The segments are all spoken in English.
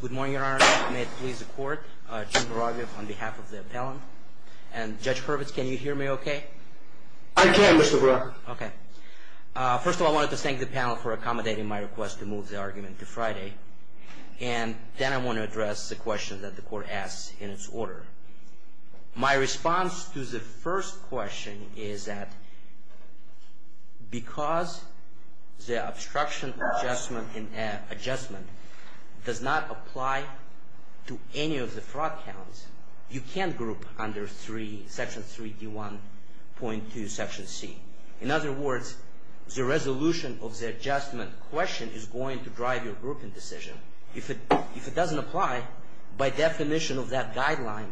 Good morning, Your Honor. May it please the court, Jim Baragio on behalf of the appellant and Judge Hurwitz, can you hear me okay? I can, Mr. Baragio. Okay. First of all, I wanted to thank the panel for accommodating my request to move the argument to Friday. And then I want to address the question that the court asks in its order. My response to the first question is that because the obstruction adjustment does not apply to any of the fraud counts, you can't group under section 3D1.2 section C. In other words, the resolution of the adjustment question is going to drive your grouping decision. If it doesn't apply, by definition of that guideline,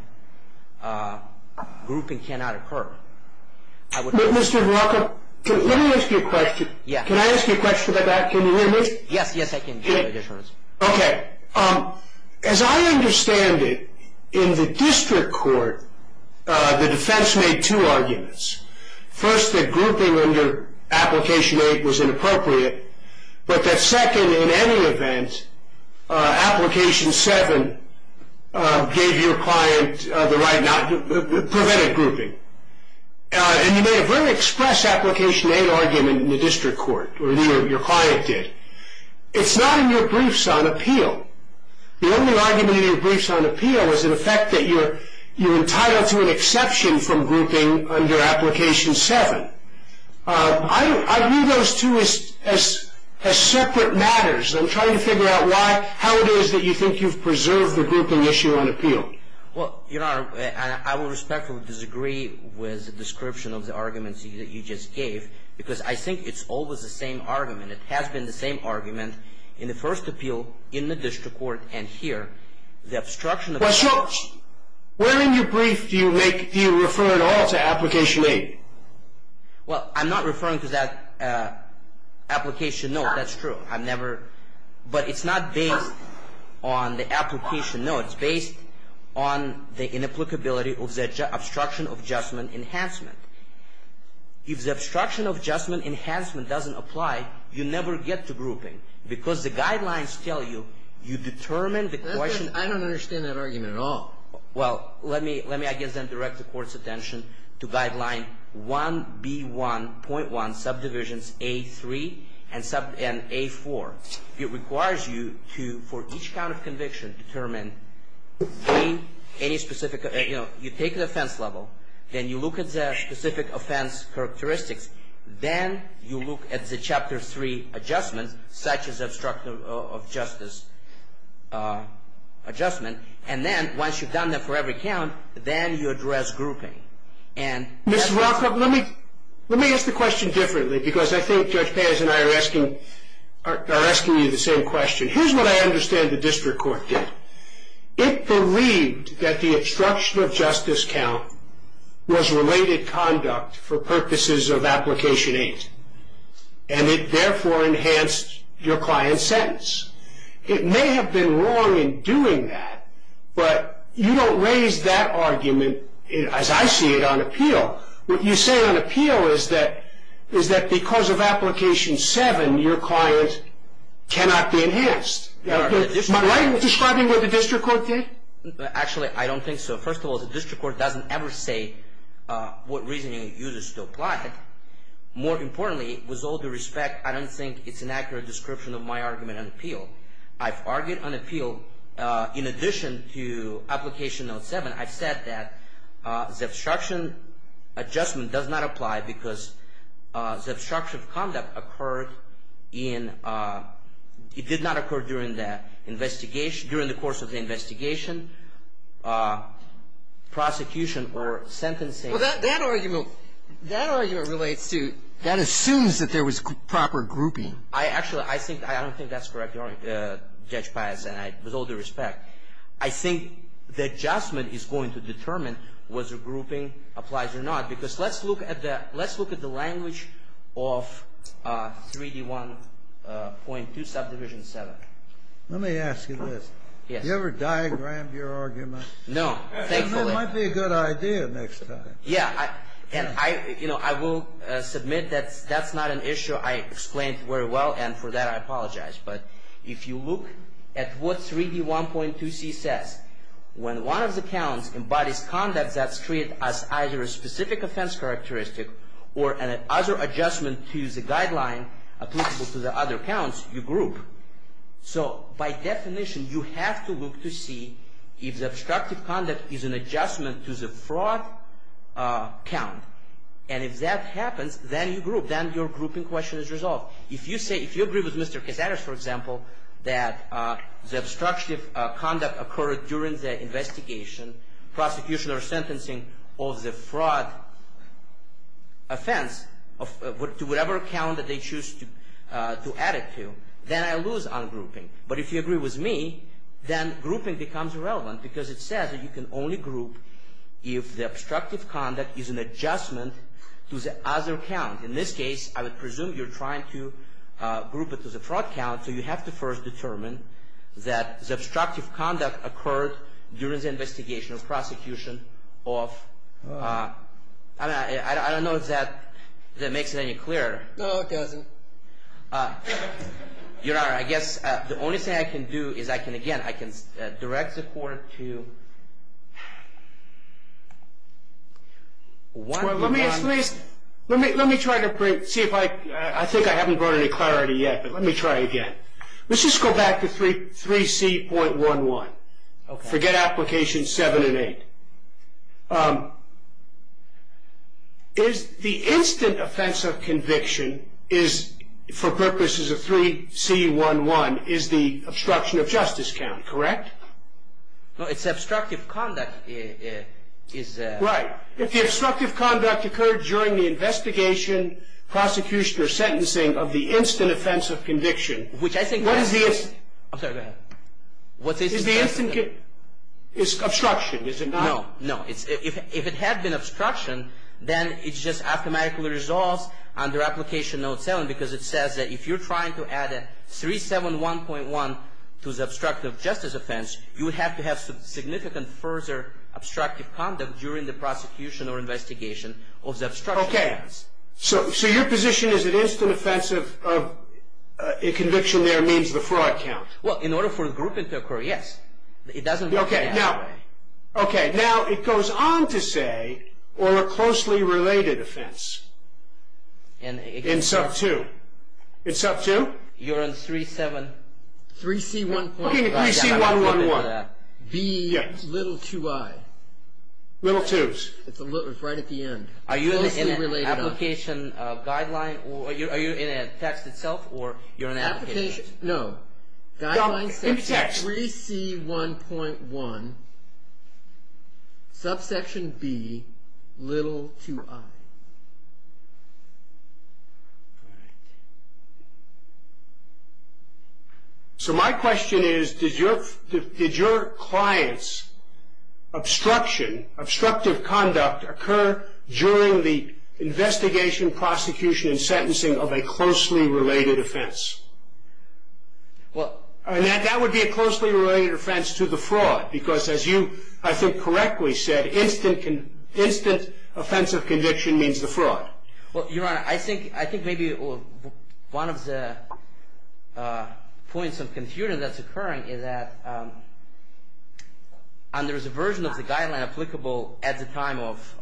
grouping cannot occur. Mr. Baragio, let me ask you a question. Can I ask you a question about that? Can you hear me? Yes, yes, I can, Your Honor. Okay. As I understand it, in the district court, the defense made two arguments. First, that grouping under application 8 was inappropriate, but that second, in any event, application 7 prevented grouping. And you made a very express application 8 argument in the district court, or your client did. It's not in your briefs on appeal. The only argument in your briefs on appeal is the fact that you're entitled to an exception from grouping under application 7. I view those two as separate matters. I'm trying to figure out why, how it is that you think you've preserved the grouping issue on appeal. Well, Your Honor, I will respectfully disagree with the description of the arguments that you just gave, because I think it's always the same argument. It has been the same argument in the first appeal, in the district court, and here. The obstruction adjustment Where in your brief do you refer at all to application 8? Well, I'm not referring to that application. No, that's true. I've never, but it's not based on the application. No, it's based on the inapplicability of the obstruction adjustment enhancement. If the obstruction adjustment enhancement doesn't apply, you never get to grouping, because the guidelines tell you, you determine the question. I don't understand that argument at all. Well, let me, I guess, then direct the Court's attention to guideline 1B1.1, subdivisions A3 and A4. It requires you to, for each count of conviction, determine any specific, you know, you take the offense level, then you look at the specific offense characteristics, then you look at the Chapter 3 adjustments, such as obstruction of justice adjustment, and then, once you've done that for every count, then you address grouping. Mr. Welkoff, let me ask the question differently, because I think Judge Paz and I are asking you the same question. Here's what I understand the District Court did. It believed that the obstruction of justice count was related conduct for purposes of application 8, and it therefore enhanced your client's sentence. It may have been wrong in doing that, but you don't raise that argument, as I see it, on appeal. What you say on appeal is that because of application 7, your client cannot be enhanced. Am I describing what the District Court did? Actually, I don't think so. First of all, the District Court doesn't ever say what reasoning it uses to apply it. More importantly, with all due respect, I don't think it's an accurate description of my argument on appeal. I've argued on appeal. In addition to application note 7, I've said that the obstruction adjustment does not apply because the obstruction of conduct occurred in – it did not occur during the investigation – during the course of the investigation, prosecution, or sentencing. Well, that argument – that argument relates to – that assumes that there was proper grouping. Actually, I don't think that's correct, Judge Pius, and with all due respect, I think the adjustment is going to determine whether grouping applies or not, because let's look at the language of 3D1.2 subdivision 7. Let me ask you this. Yes. Have you ever diagrammed your argument? No, thankfully. It might be a good idea next time. Yeah, and I will submit that that's not an issue I explained very well, and for that I apologize. But if you look at what 3D1.2c says, when one of the counts embodies conduct that's treated as either a specific offense characteristic or an other adjustment to the guideline applicable to the other counts, you group. So, by definition, you have to look to see if the obstructive conduct is an adjustment to the fraud count, and if that happens, then you group. Then your grouping question is resolved. If you say – if you agree with Mr. Casares, for example, that the obstructive conduct occurred during the investigation, prosecution, or sentencing of the fraud offense to whatever count that they choose to add it to, then I lose on grouping. But if you agree with me, then grouping becomes irrelevant, because it says that you can only group if the obstructive conduct is an adjustment to the other count. In this case, I would presume you're trying to group it to the fraud count, so you have to first determine that the obstructive conduct occurred during the investigation or prosecution of – I don't know if that makes it any clearer. No, it doesn't. Your Honor, I guess the only thing I can do is I can, again, I can direct the court to – Let me try to bring – see if I – I think I haven't brought any clarity yet, but let me try again. Let's just go back to 3C.11. Forget applications 7 and 8. The instant offense of conviction is, for purposes of 3C.11, is the obstruction of justice count, correct? No, it's obstructive conduct is – Right. If the obstructive conduct occurred during the investigation, prosecution, or sentencing of the instant offense of conviction – Which I think – What is the – I'm sorry, go ahead. What's the – Is the instant – is obstruction, is it not? No, no. If it had been obstruction, then it just automatically resolves under application note 7, because it says that if you're trying to add a 371.1 to the obstructive justice offense, you would have to have significant further obstructive conduct during the prosecution or investigation of the obstruction of justice. Okay. So your position is that instant offense of conviction there means the fraud count? Well, in order for a grouping to occur, yes. It doesn't – Okay, now – Okay, now it goes on to say, or a closely related offense. In – In sub 2. In sub 2? You're on 37 – 3C.11. 3C.11. B. Yes. Little 2i. Little 2s. It's right at the end. Are you in an application guideline, or are you in a text itself, or you're in an application? Application – no. In the text. Guideline 3C.1.1, subsection B, little 2i. All right. So my question is, did your client's obstruction, obstructive conduct, occur during the investigation, prosecution, and sentencing of a closely related offense? Well, that would be a closely related offense to the fraud, because as you, I think, correctly said, instant offensive conviction means the fraud. Well, Your Honor, I think maybe one of the points of confusion that's occurring is that under the version of the guideline applicable at the time of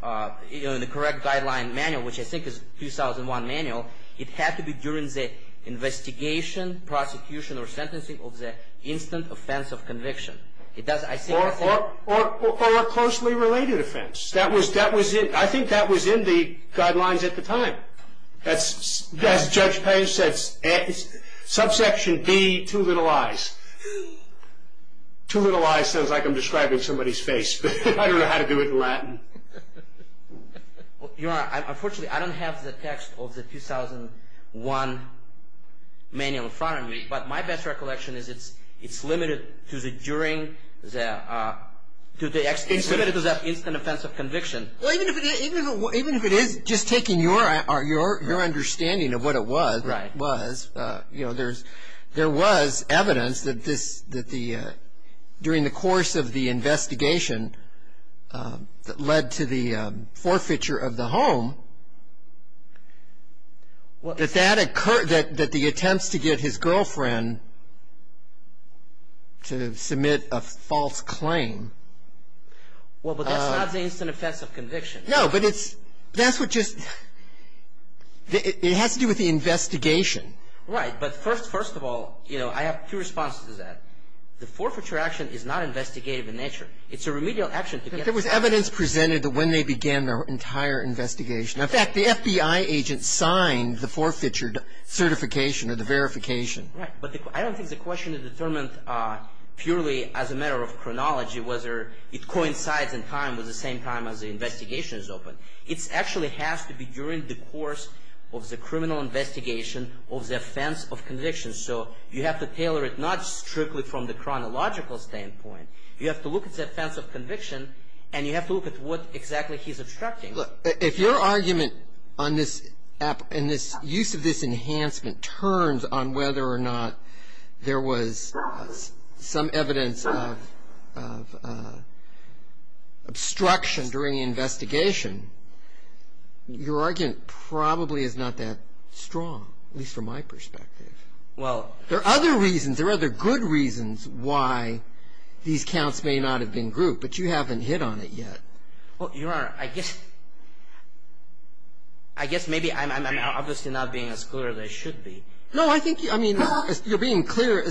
the correct guideline manual, which I think is 2001 manual, it had to be during the investigation, prosecution, or sentencing of the instant offensive conviction. Or a closely related offense. I think that was in the guidelines at the time. As Judge Page said, subsection B, two little i's. Two little i's sounds like I'm describing somebody's face, but I don't know how to do it in Latin. Your Honor, unfortunately, I don't have the text of the 2001 manual in front of me, but my best recollection is it's limited to the instant offensive conviction. Well, even if it is, just taking your understanding of what it was, there was evidence that during the course of the investigation that led to the forfeiture of the home, that that occurred, that the attempts to get his girlfriend to submit a false claim. Well, but that's not the instant offensive conviction. No, but it's, that's what just, it has to do with the investigation. Right. But first of all, you know, I have two responses to that. The forfeiture action is not investigative in nature. It's a remedial action. There was evidence presented that when they began their entire investigation. In fact, the FBI agent signed the forfeiture certification or the verification. Right. But I don't think the question is determined purely as a matter of chronology, whether it coincides in time with the same time as the investigation is open. It actually has to be during the course of the criminal investigation of the offense of conviction. So you have to tailor it not strictly from the chronological standpoint. You have to look at the offense of conviction, and you have to look at what exactly he's obstructing. Look, if your argument on this, in this use of this enhancement turns on whether or not there was some evidence of obstruction during the investigation, your argument probably is not that strong, at least from my perspective. There are other reasons. There are other good reasons why these counts may not have been grouped, but you haven't hit on it yet. Well, Your Honor, I guess maybe I'm obviously not being as clear as I should be. No, I think you're being clear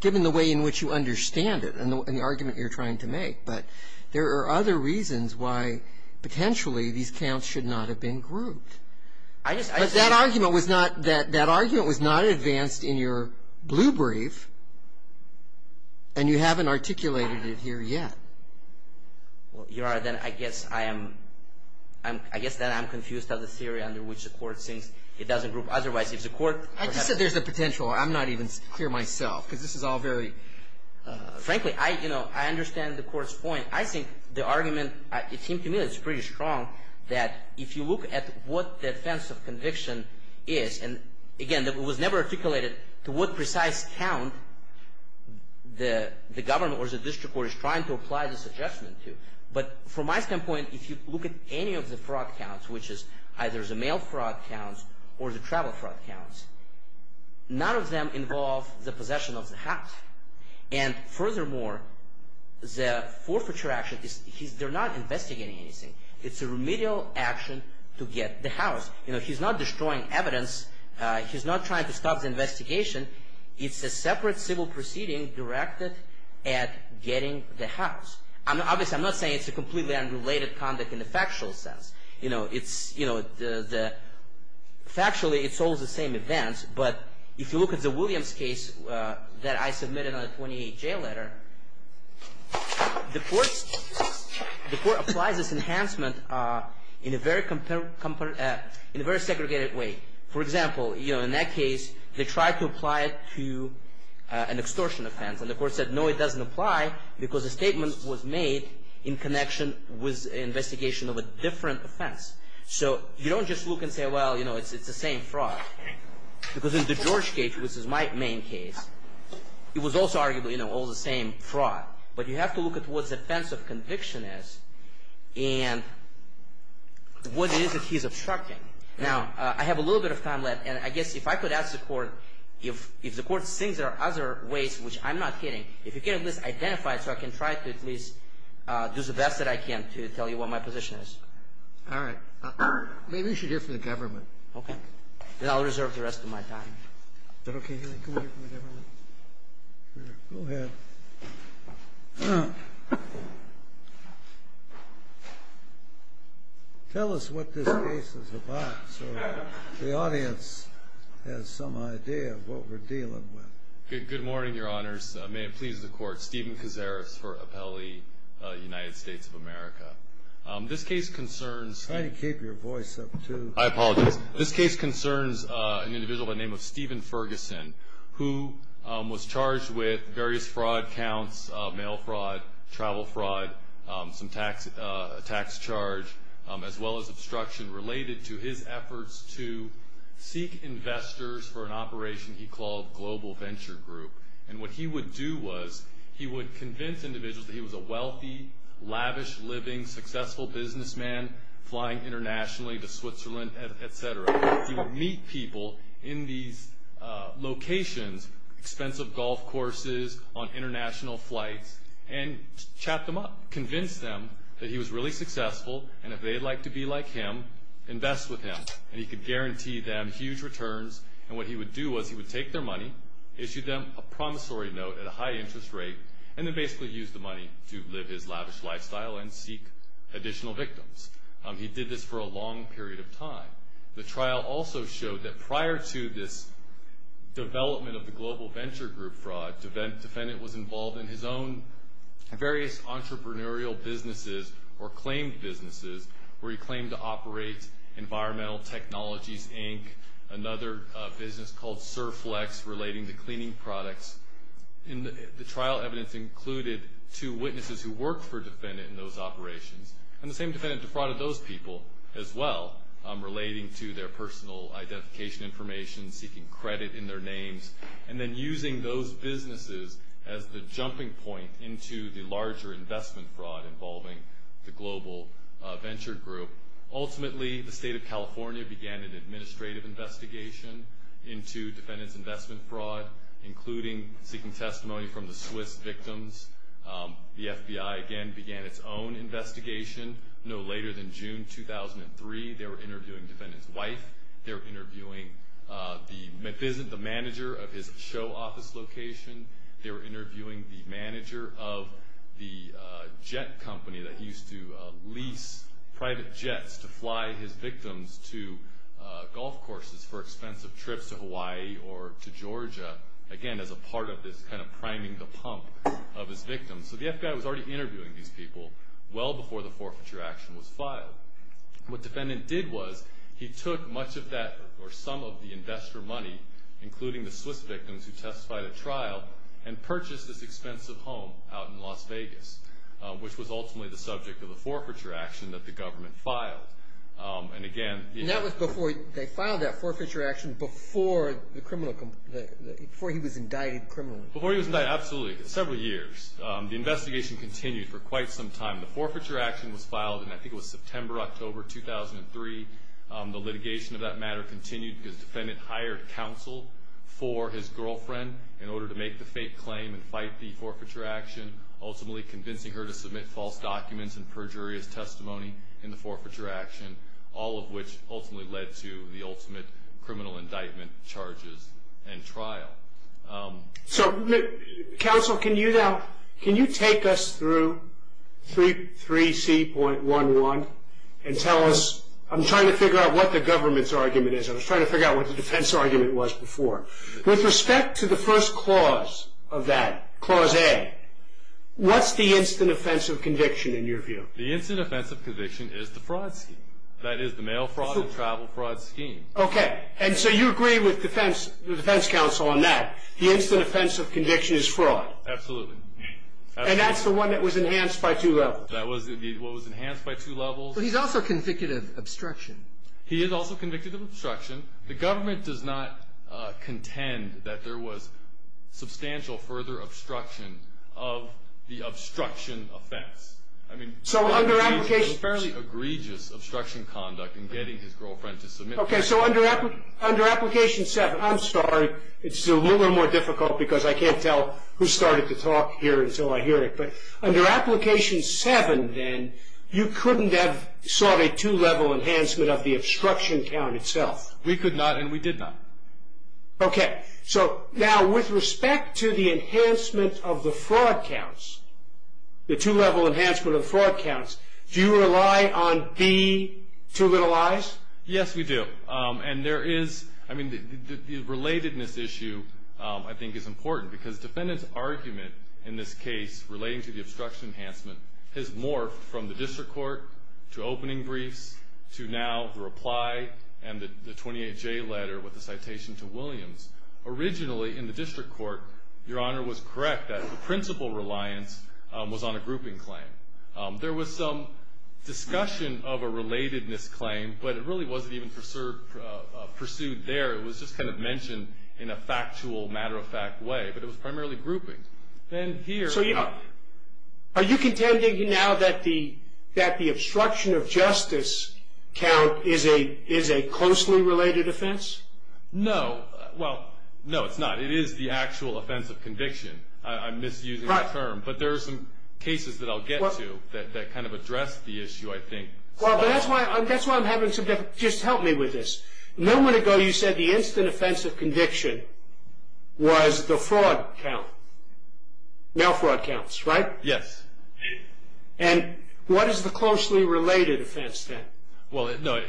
given the way in which you understand it and the argument you're trying to make. But there are other reasons why potentially these counts should not have been grouped. But that argument was not advanced in your blue brief, and you haven't articulated it here yet. Well, Your Honor, then I guess I'm confused of the theory under which the court thinks it doesn't group. Otherwise, if the court— I just said there's a potential. I'm not even clear myself because this is all very— Frankly, I understand the court's point. I think the argument, it seems to me that it's pretty strong that if you look at what the defense of conviction is, and again, it was never articulated to what precise count the government or the district court is trying to apply this adjustment to. But from my standpoint, if you look at any of the fraud counts, which is either the mail fraud counts or the travel fraud counts, none of them involve the possession of the house. And furthermore, the forfeiture action, they're not investigating anything. It's a remedial action to get the house. He's not destroying evidence. He's not trying to stop the investigation. It's a separate civil proceeding directed at getting the house. Obviously, I'm not saying it's a completely unrelated conduct in the factual sense. Factually, it's all the same events. But if you look at the Williams case that I submitted on the 28-J letter, the court applies this enhancement in a very segregated way. For example, in that case, they tried to apply it to an extortion offense. And the court said, no, it doesn't apply because the statement was made in connection with an investigation of a different offense. So you don't just look and say, well, it's the same fraud. Because in the George case, which is my main case, it was also arguably all the same fraud. But you have to look at what the defense of conviction is and what it is that he's obstructing. Now, I have a little bit of time left. And I guess if I could ask the court, if the court thinks there are other ways, which I'm not kidding, if you can at least identify it so I can try to at least do the best that I can to tell you what my position is. All right. Maybe we should hear from the government. Okay. Then I'll reserve the rest of my time. Is that okay? Can we hear from the government? Go ahead. All right. Tell us what this case is about so the audience has some idea of what we're dealing with. Good morning, Your Honors. May it please the Court. Steven Cazares for Appellee, United States of America. This case concerns an individual by the name of Stephen Ferguson, who was charged with various fraud counts, mail fraud, travel fraud, some tax charge, as well as obstruction related to his efforts to seek investors for an operation he called Global Venture Group. And what he would do was he would convince individuals that he was a wealthy, lavish living, successful businessman, flying internationally to Switzerland, et cetera. He would meet people in these locations, expensive golf courses, on international flights, and chat them up, convince them that he was really successful, and if they'd like to be like him, invest with him, and he could guarantee them huge returns. And what he would do was he would take their money, issue them a promissory note at a high interest rate, and then basically use the money to live his lavish lifestyle and seek additional victims. He did this for a long period of time. The trial also showed that prior to this development of the Global Venture Group fraud, the defendant was involved in his own various entrepreneurial businesses or claimed businesses, where he claimed to operate Environmental Technologies, Inc., another business called Surflex, relating to cleaning products. And the trial evidence included two witnesses who worked for the defendant in those operations, and the same defendant defrauded those people as well, relating to their personal identification information, seeking credit in their names, and then using those businesses as the jumping point into the larger investment fraud involving the Global Venture Group. Ultimately, the State of California began an administrative investigation into defendant's investment fraud, including seeking testimony from the Swiss victims. The FBI, again, began its own investigation. No later than June 2003, they were interviewing defendant's wife. They were interviewing the manager of his show office location. They were interviewing the manager of the jet company that used to lease private jets to fly his victims to golf courses for expensive trips to Hawaii or to Georgia, again, as a part of this kind of priming the pump of his victims. So the FBI was already interviewing these people well before the forfeiture action was filed. What defendant did was he took much of that or some of the investor money, including the Swiss victims who testified at trial, and purchased this expensive home out in Las Vegas, which was ultimately the subject of the forfeiture action that the government filed. And that was before they filed that forfeiture action, before he was indicted criminally. Before he was indicted, absolutely, several years. The investigation continued for quite some time. The forfeiture action was filed in I think it was September, October 2003. The litigation of that matter continued because defendant hired counsel for his girlfriend in order to make the fake claim and fight the forfeiture action, ultimately convincing her to submit false documents and perjurious testimony in the forfeiture action, all of which ultimately led to the ultimate criminal indictment charges and trial. So, counsel, can you take us through 3C.11 and tell us, I'm trying to figure out what the government's argument is. I was trying to figure out what the defense argument was before. With respect to the first clause of that, Clause A, what's the instant offense of conviction in your view? The instant offense of conviction is the fraud scheme. That is the mail fraud and travel fraud scheme. Okay. And so you agree with defense counsel on that. The instant offense of conviction is fraud. Absolutely. And that's the one that was enhanced by two levels. That was what was enhanced by two levels. But he's also convicted of obstruction. He is also convicted of obstruction. The government does not contend that there was substantial further obstruction of the obstruction effects. I mean, it's a fairly egregious obstruction conduct in getting his girlfriend to submit. Okay. So under Application 7, I'm sorry. It's a little more difficult because I can't tell who started the talk here until I hear it. Under Application 7, then, you couldn't have sought a two-level enhancement of the obstruction count itself. We could not and we did not. Okay. So now with respect to the enhancement of the fraud counts, the two-level enhancement of the fraud counts, do you rely on B, too little I's? Yes, we do. And there is, I mean, the relatedness issue I think is important because defendant's argument in this case relating to the obstruction enhancement has morphed from the district court to opening briefs to now the reply and the 28J letter with the citation to Williams. Originally in the district court, Your Honor was correct that the principal reliance was on a grouping claim. There was some discussion of a relatedness claim, but it really wasn't even pursued there. It was just kind of mentioned in a factual, matter-of-fact way. But it was primarily grouping. So, Your Honor, are you contending now that the obstruction of justice count is a closely related offense? No. Well, no, it's not. It is the actual offense of conviction. I'm misusing the term. But there are some cases that I'll get to that kind of address the issue, I think. Well, but that's why I'm having some difficulty. Just help me with this. A moment ago you said the instant offense of conviction was the fraud count, now fraud counts, right? Yes. And what is the closely related offense then? Well, no,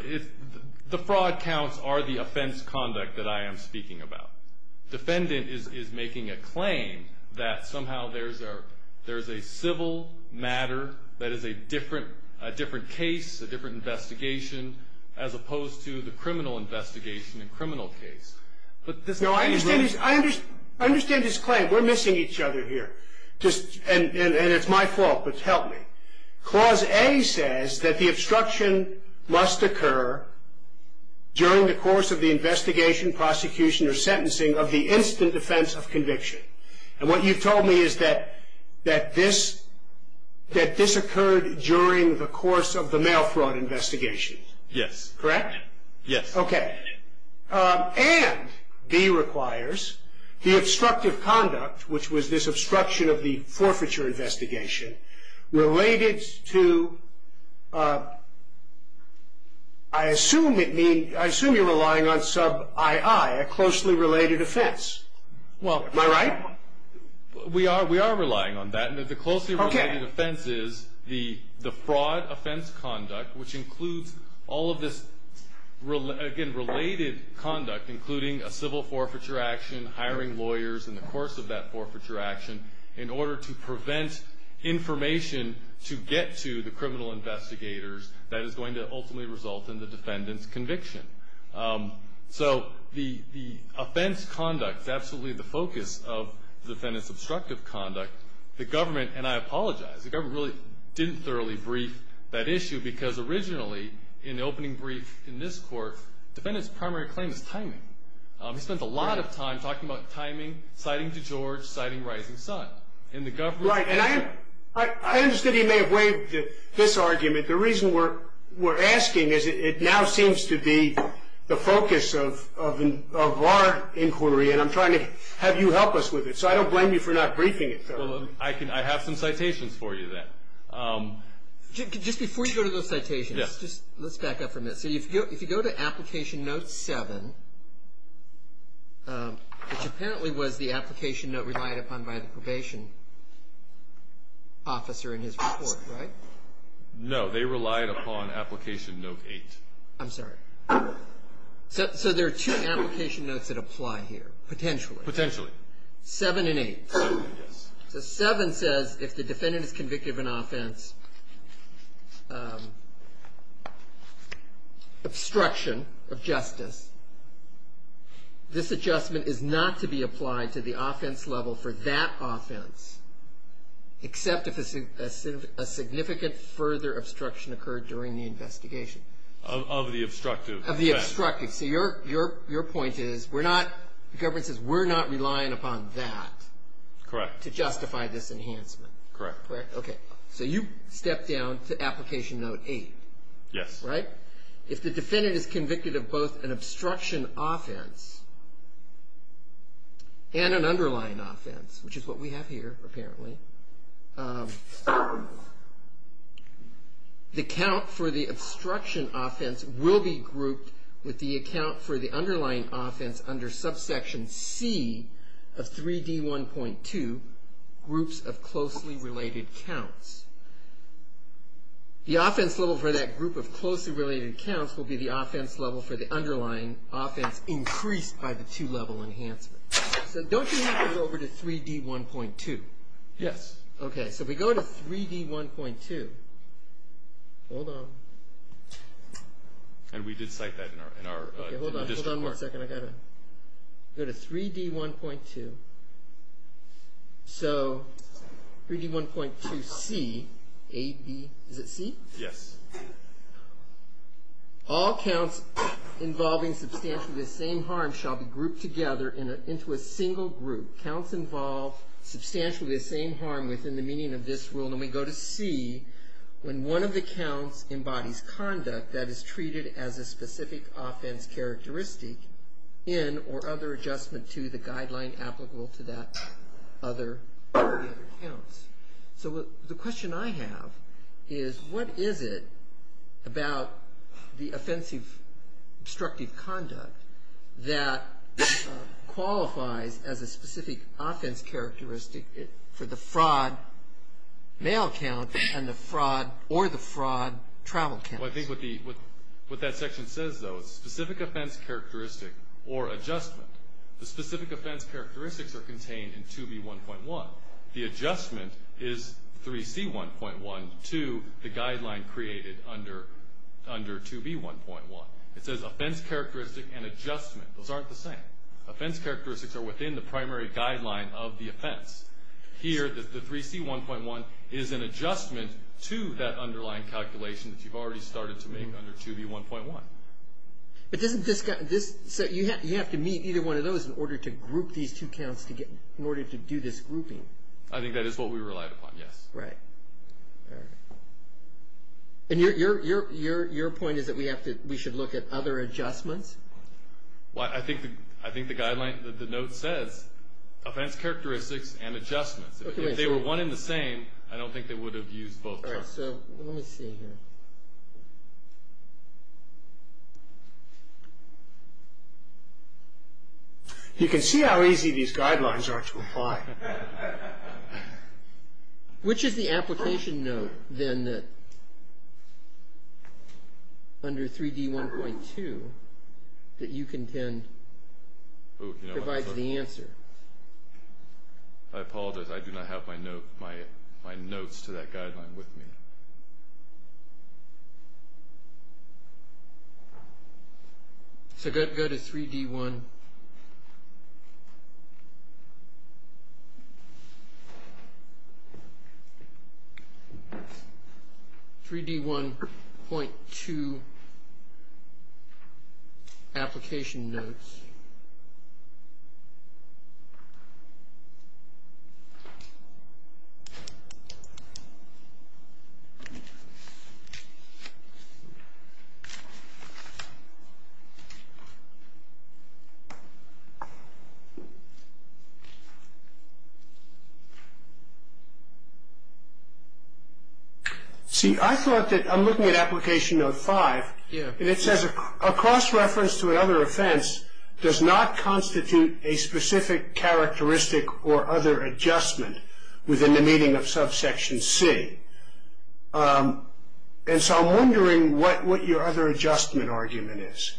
the fraud counts are the offense conduct that I am speaking about. The defendant is making a claim that somehow there's a civil matter that is a different case, a different investigation, as opposed to the criminal investigation and criminal case. No, I understand his claim. We're missing each other here. And it's my fault, but help me. Clause A says that the obstruction must occur during the course of the investigation, prosecution, or sentencing of the instant offense of conviction. And what you've told me is that this occurred during the course of the mail fraud investigation. Correct? Yes. Okay. And B requires the obstructive conduct, which was this obstruction of the forfeiture investigation, related to, I assume you're relying on sub I.I., a closely related offense. Am I right? We are relying on that. The closely related offense is the fraud offense conduct, which includes all of this, again, related conduct, including a civil forfeiture action, hiring lawyers in the course of that forfeiture action, in order to prevent information to get to the criminal investigators that is going to ultimately result in the defendant's conviction. So the offense conduct is absolutely the focus of the defendant's obstructive conduct. The government, and I apologize, the government really didn't thoroughly brief that issue because originally in the opening brief in this court, the defendant's primary claim is timing. He spent a lot of time talking about timing, citing DeGeorge, citing Rising Sun. Right. And I understand he may have waived this argument. The reason we're asking is it now seems to be the focus of our inquiry, and I'm trying to have you help us with it so I don't blame you for not briefing it thoroughly. I have some citations for you then. Just before you go to those citations, let's back up for a minute. So if you go to Application Note 7, which apparently was the application note relied upon by the probation officer in his report, right? No, they relied upon Application Note 8. I'm sorry. So there are two application notes that apply here, potentially. Potentially. 7 and 8. Yes. So 7 says if the defendant is convicted of an offense, obstruction of justice, this adjustment is not to be applied to the offense level for that offense except if a significant further obstruction occurred during the investigation. Of the obstructive. Of the obstructive. So your point is the government says we're not relying upon that to justify this enhancement. Correct. Okay. So you stepped down to Application Note 8. Yes. Right? If the defendant is convicted of both an obstruction offense and an underlying offense, which is what we have here apparently, the count for the obstruction offense will be grouped with the account for the underlying offense under subsection C of 3D1.2, groups of closely related counts. The offense level for that group of closely related counts will be the offense level for the underlying offense increased by the two-level enhancement. So don't you need to go over to 3D1.2? Yes. Okay. So we go to 3D1.2. Hold on. And we did cite that in our district court. Hold on one second. I've got to go to 3D1.2. So 3D1.2C, A, B, is it C? Yes. All counts involving substantially the same harm shall be grouped together into a single group. Counts involved substantially the same harm within the meaning of this rule, and we go to C when one of the counts embodies conduct that is treated as a specific offense characteristic in or other adjustment to the guideline applicable to that other group of counts. So the question I have is what is it about the offensive obstructive conduct that qualifies as a specific offense characteristic for the fraud mail count and the fraud or the fraud travel counts? Well, I think what that section says, though, is specific offense characteristic or adjustment. The specific offense characteristics are contained in 2B1.1. The adjustment is 3C1.1 to the guideline created under 2B1.1. It says offense characteristic and adjustment. Those aren't the same. Offense characteristics are within the primary guideline of the offense. Here, the 3C1.1 is an adjustment to that underlying calculation that you've already started to make under 2B1.1. So you have to meet either one of those in order to group these two counts together, in order to do this grouping. I think that is what we relied upon, yes. Right. And your point is that we should look at other adjustments? Well, I think the guideline, the note says offense characteristics and adjustments. If they were one and the same, I don't think they would have used both terms. All right. So let me see here. You can see how easy these guidelines are to apply. Which is the application note, then, under 3D1.2 that you contend provides the answer? I apologize. I do not have my notes to that guideline with me. So I've got to go to 3D1.2 application notes. Let's see. See, I thought that I'm looking at application note 5, and it says a cross-reference to another offense does not constitute a specific characteristic or other adjustment within the meaning of subsection C. And so I'm wondering what your other adjustment argument is.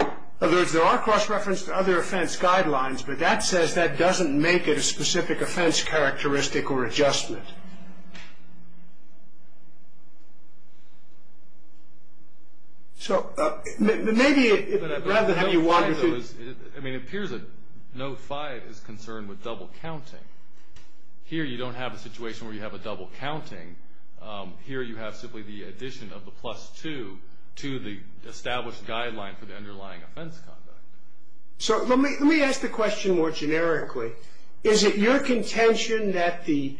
In other words, there are cross-reference to other offense guidelines, but that says that doesn't make it a specific offense characteristic or adjustment. So maybe rather than have you wanted to. I mean, it appears that note 5 is concerned with double counting. Here you don't have a situation where you have a double counting. Here you have simply the addition of the plus 2 to the established guideline for the underlying offense conduct. So let me ask the question more generically. Is it your contention that the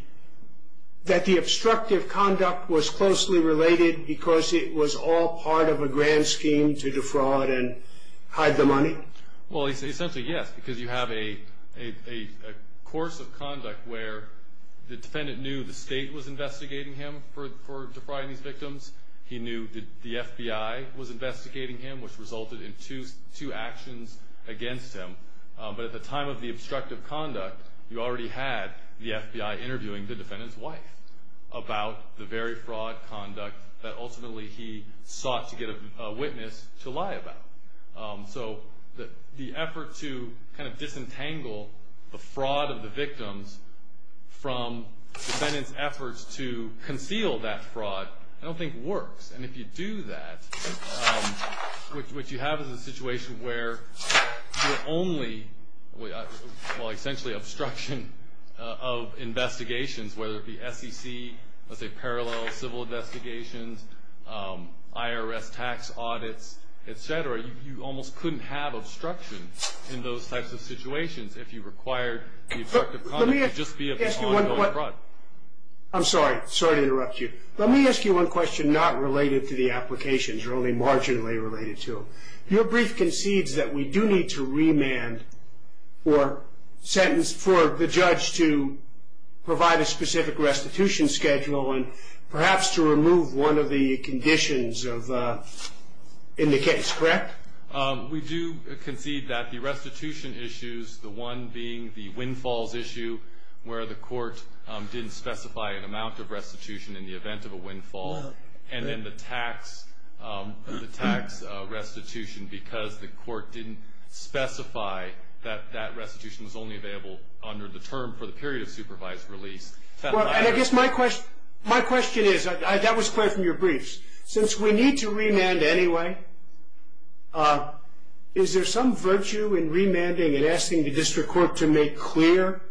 obstructive conduct was closely related because it was all part of a grand scheme to defraud and hide the money? Well, essentially, yes, because you have a course of conduct where the defendant knew the state was investigating him for defrauding these victims. He knew that the FBI was investigating him, which resulted in two actions against him. But at the time of the obstructive conduct, you already had the FBI interviewing the defendant's wife about the very fraud conduct that ultimately he sought to get a witness to lie about. So the effort to kind of disentangle the fraud of the victims from the defendant's efforts to conceal that fraud, I don't think works. And if you do that, what you have is a situation where you're only, well, essentially obstruction of investigations, whether it be SEC, let's say parallel civil investigations, IRS tax audits, et cetera. You almost couldn't have obstruction in those types of situations if you required the obstructive conduct to just be an ongoing fraud. I'm sorry. Sorry to interrupt you. Let me ask you one question not related to the applications or only marginally related to them. Your brief concedes that we do need to remand or sentence for the judge to provide a specific restitution schedule and perhaps to remove one of the conditions in the case, correct? We do concede that the restitution issues, the one being the windfalls issue, where the court didn't specify an amount of restitution in the event of a windfall, and then the tax restitution because the court didn't specify that that restitution was only available under the term for the period of supervised release. And I guess my question is, that was clear from your briefs, since we need to remand anyway, is there some virtue in remanding and asking the district court to make clear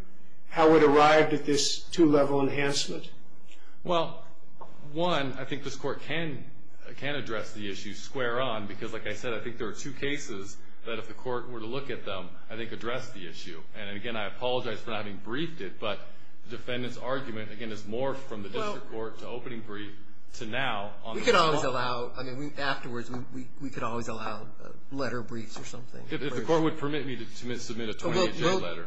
how it arrived at this two-level enhancement? Well, one, I think this court can address the issue square on because, like I said, I think there are two cases that if the court were to look at them, I think address the issue. And, again, I apologize for not having briefed it, but the defendant's argument, again, is more from the district court to opening brief to now. We could always allow, I mean, afterwards, we could always allow letter briefs or something. If the court would permit me to submit a 20-page letter.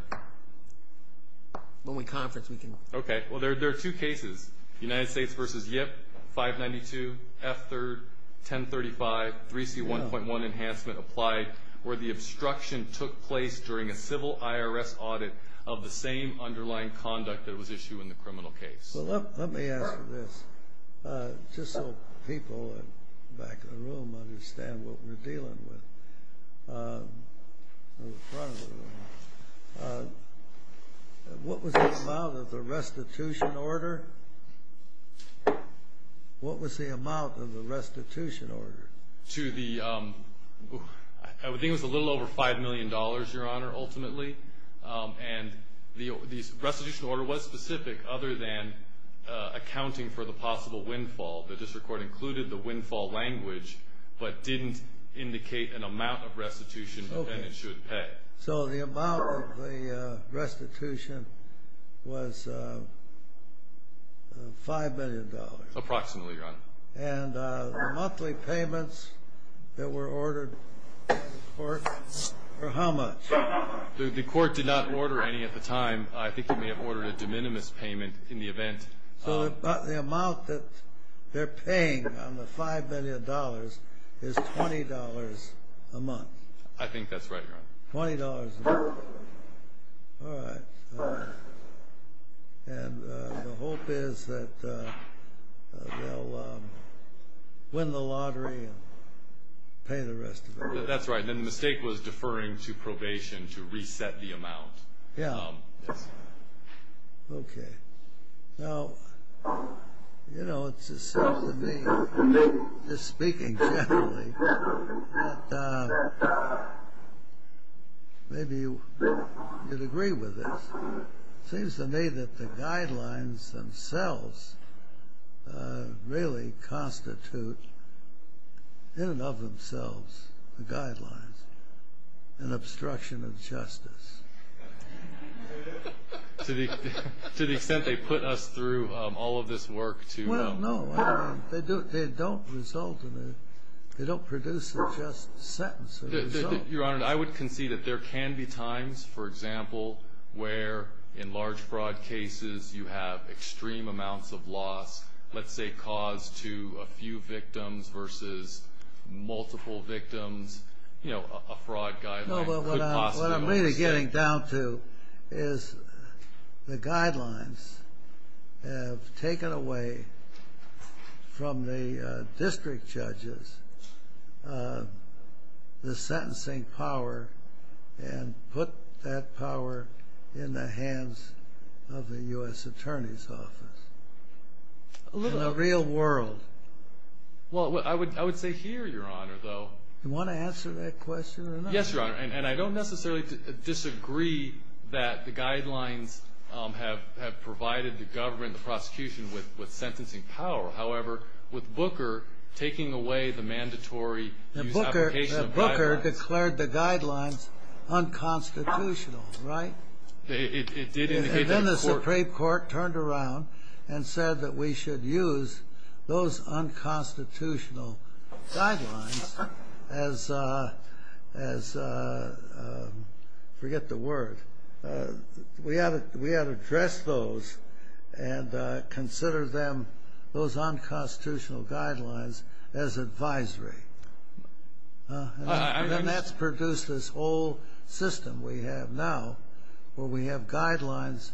When we conference, we can. Okay. Well, there are two cases, United States v. Yip, 592, F-3rd, 1035, 3C1.1 Enhancement Applied, where the obstruction took place during a civil IRS audit of the same underlying conduct that was issued in the criminal case. Well, let me ask you this, just so people back in the room understand what we're dealing with. What was the amount of the restitution order? What was the amount of the restitution order? To the, I would think it was a little over $5 million, Your Honor, ultimately. And the restitution order was specific other than accounting for the possible windfall. The district court included the windfall language, but didn't indicate an amount of restitution the defendant should pay. So the amount of the restitution was $5 million. Approximately, Your Honor. And the monthly payments that were ordered were how much? The court did not order any at the time. I think it may have ordered a de minimis payment in the event. So the amount that they're paying on the $5 million is $20 a month. I think that's right, Your Honor. $20 a month. All right. And the hope is that they'll win the lottery and pay the rest of it. That's right. Then the mistake was deferring to probation to reset the amount. Yeah. Okay. Now, you know, it seems to me, just speaking generally, that maybe you'd agree with this. It seems to me that the guidelines themselves really constitute, in and of themselves, the guidelines, an obstruction of justice. To the extent they put us through all of this work to know. Well, no. They don't result in a, they don't produce a just sentence. Your Honor, I would concede that there can be times, for example, where in large fraud cases you have extreme amounts of loss, let's say cause to a few victims versus multiple victims. You know, a fraud guideline could possibly. What I'm really getting down to is the guidelines have taken away from the district judges the sentencing power and put that power in the hands of the U.S. Attorney's Office. In the real world. Well, I would say here, Your Honor, though. Yes, Your Honor. And I don't necessarily disagree that the guidelines have provided the government, the prosecution, with sentencing power. However, with Booker taking away the mandatory use application of guidelines. Booker declared the guidelines unconstitutional, right? It did indicate that. And then the Supreme Court turned around and said that we should use those unconstitutional guidelines as, forget the word. We ought to address those and consider them, those unconstitutional guidelines, as advisory. And that's produced this whole system we have now where we have guidelines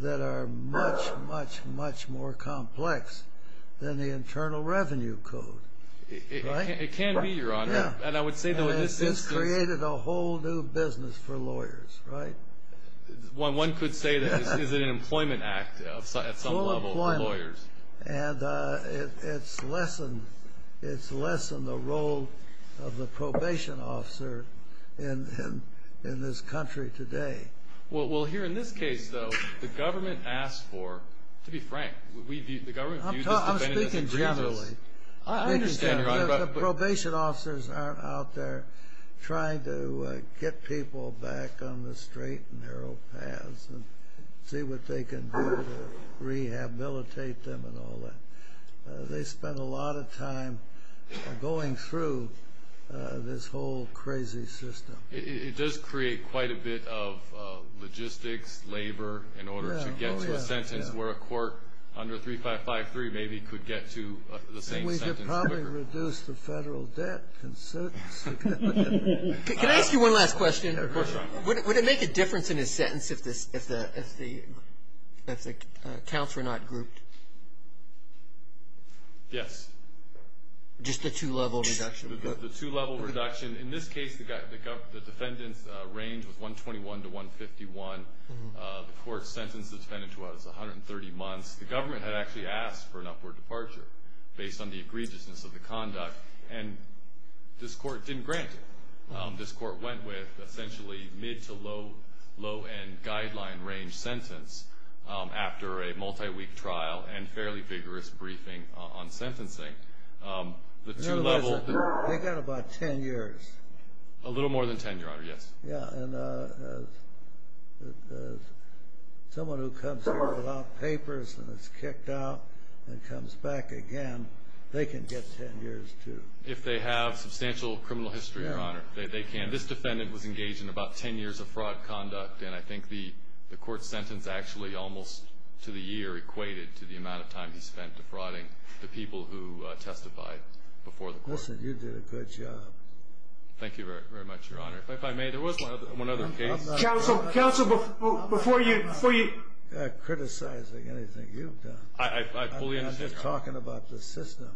that are much, much, much more complex than the Internal Revenue Code. It can be, Your Honor. And I would say that it's created a whole new business for lawyers, right? One could say that it's an employment act at some level for lawyers. And it's lessened, it's lessened the role of the probation officer in this country today. Well, here in this case, though, the government asked for, to be frank, the government views this defendant as a criminal. I'm speaking generally. I understand, Your Honor. The probation officers aren't out there trying to get people back on the straight and narrow paths and see what they can do to rehabilitate them and all that. They spend a lot of time going through this whole crazy system. It does create quite a bit of logistics, labor in order to get to a sentence where a court under 3553 maybe could get to the same sentence quicker. It would probably reduce the federal debt considerably. Can I ask you one last question? Of course, Your Honor. Would it make a difference in his sentence if the counts were not grouped? Yes. Just the two-level reduction? The two-level reduction. In this case, the defendant's range was 121 to 151. The court sentenced the defendant to what? It's 130 months. The government had actually asked for an upward departure based on the egregiousness of the conduct, and this court didn't grant it. This court went with essentially mid- to low-end guideline range sentence after a multi-week trial and fairly vigorous briefing on sentencing. They got about 10 years. A little more than 10 years, Your Honor, yes. Yes, and someone who comes here without papers and is kicked out and comes back again, they can get 10 years too. If they have substantial criminal history, Your Honor, they can. This defendant was engaged in about 10 years of fraud conduct, and I think the court sentence actually almost to the year equated to the amount of time he spent defrauding the people who testified before the court. Listen, you did a good job. Thank you very much, Your Honor. If I may, there was one other case. Counsel, before you... I'm not criticizing anything you've done. I fully understand, Your Honor. I'm just talking about the system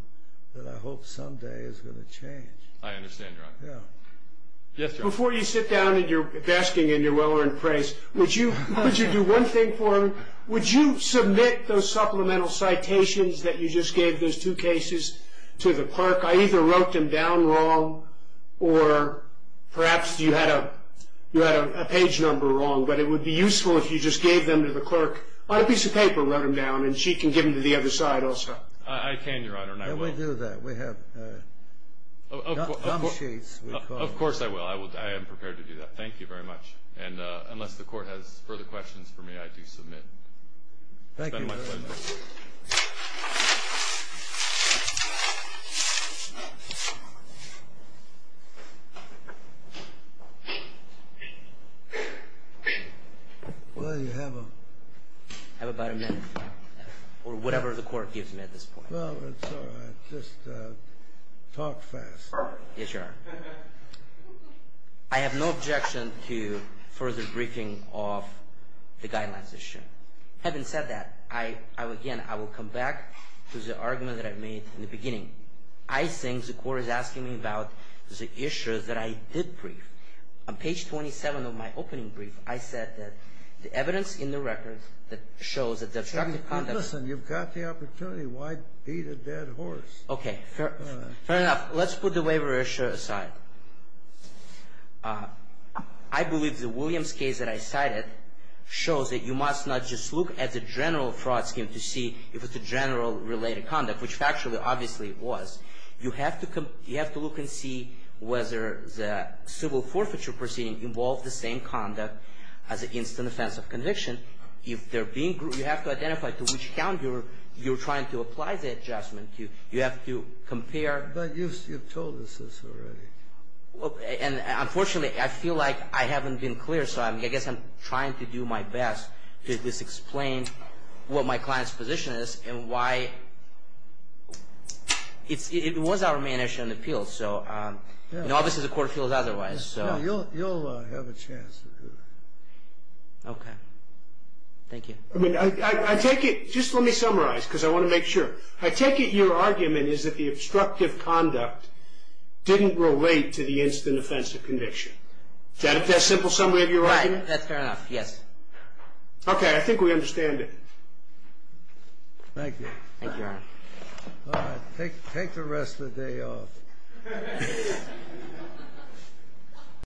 that I hope someday is going to change. I understand, Your Honor. Yeah. Yes, Your Honor. Before you sit down and you're basking in your well-earned praise, would you do one thing for me? Counsel, would you submit those supplemental citations that you just gave those two cases to the clerk? I either wrote them down wrong, or perhaps you had a page number wrong, but it would be useful if you just gave them to the clerk on a piece of paper and wrote them down, and she can give them to the other side also. I can, Your Honor, and I will. We do that. We have gum sheets. Of course I will. I am prepared to do that. Thank you very much. And unless the court has further questions for me, I do submit. Thank you, Your Honor. It's been my pleasure. Well, you have about a minute or whatever the court gives me at this point. Well, it's all right. Just talk fast. Yes, Your Honor. I have no objection to further briefing of the guidelines issue. Having said that, again, I will come back to the argument that I made in the beginning. I think the court is asking me about the issues that I did brief. On page 27 of my opening brief, I said that the evidence in the record that shows that the obstructive conduct... Listen, you've got the opportunity. Why beat a dead horse? Okay, fair enough. Let's put the waiver issue aside. I believe the Williams case that I cited shows that you must not just look at the general fraud scheme to see if it's a general related conduct, which factually, obviously, it was. You have to look and see whether the civil forfeiture proceeding involved the same conduct as an instant offense of conviction. You have to identify to which account you're trying to apply the adjustment to. You have to compare. But you've told us this already. Unfortunately, I feel like I haven't been clear, so I guess I'm trying to do my best to explain what my client's position is and why it was our main issue in the appeals. Obviously, the court feels otherwise. You'll have a chance to do that. Okay. Thank you. I mean, I take it... Just let me summarize because I want to make sure. I take it your argument is that the obstructive conduct didn't relate to the instant offense of conviction. Is that a simple summary of your argument? Right. That's fair enough. Yes. Okay. I think we understand it. Thank you. Thank you, Your Honor. All right. Take the rest of the day off. Thank you.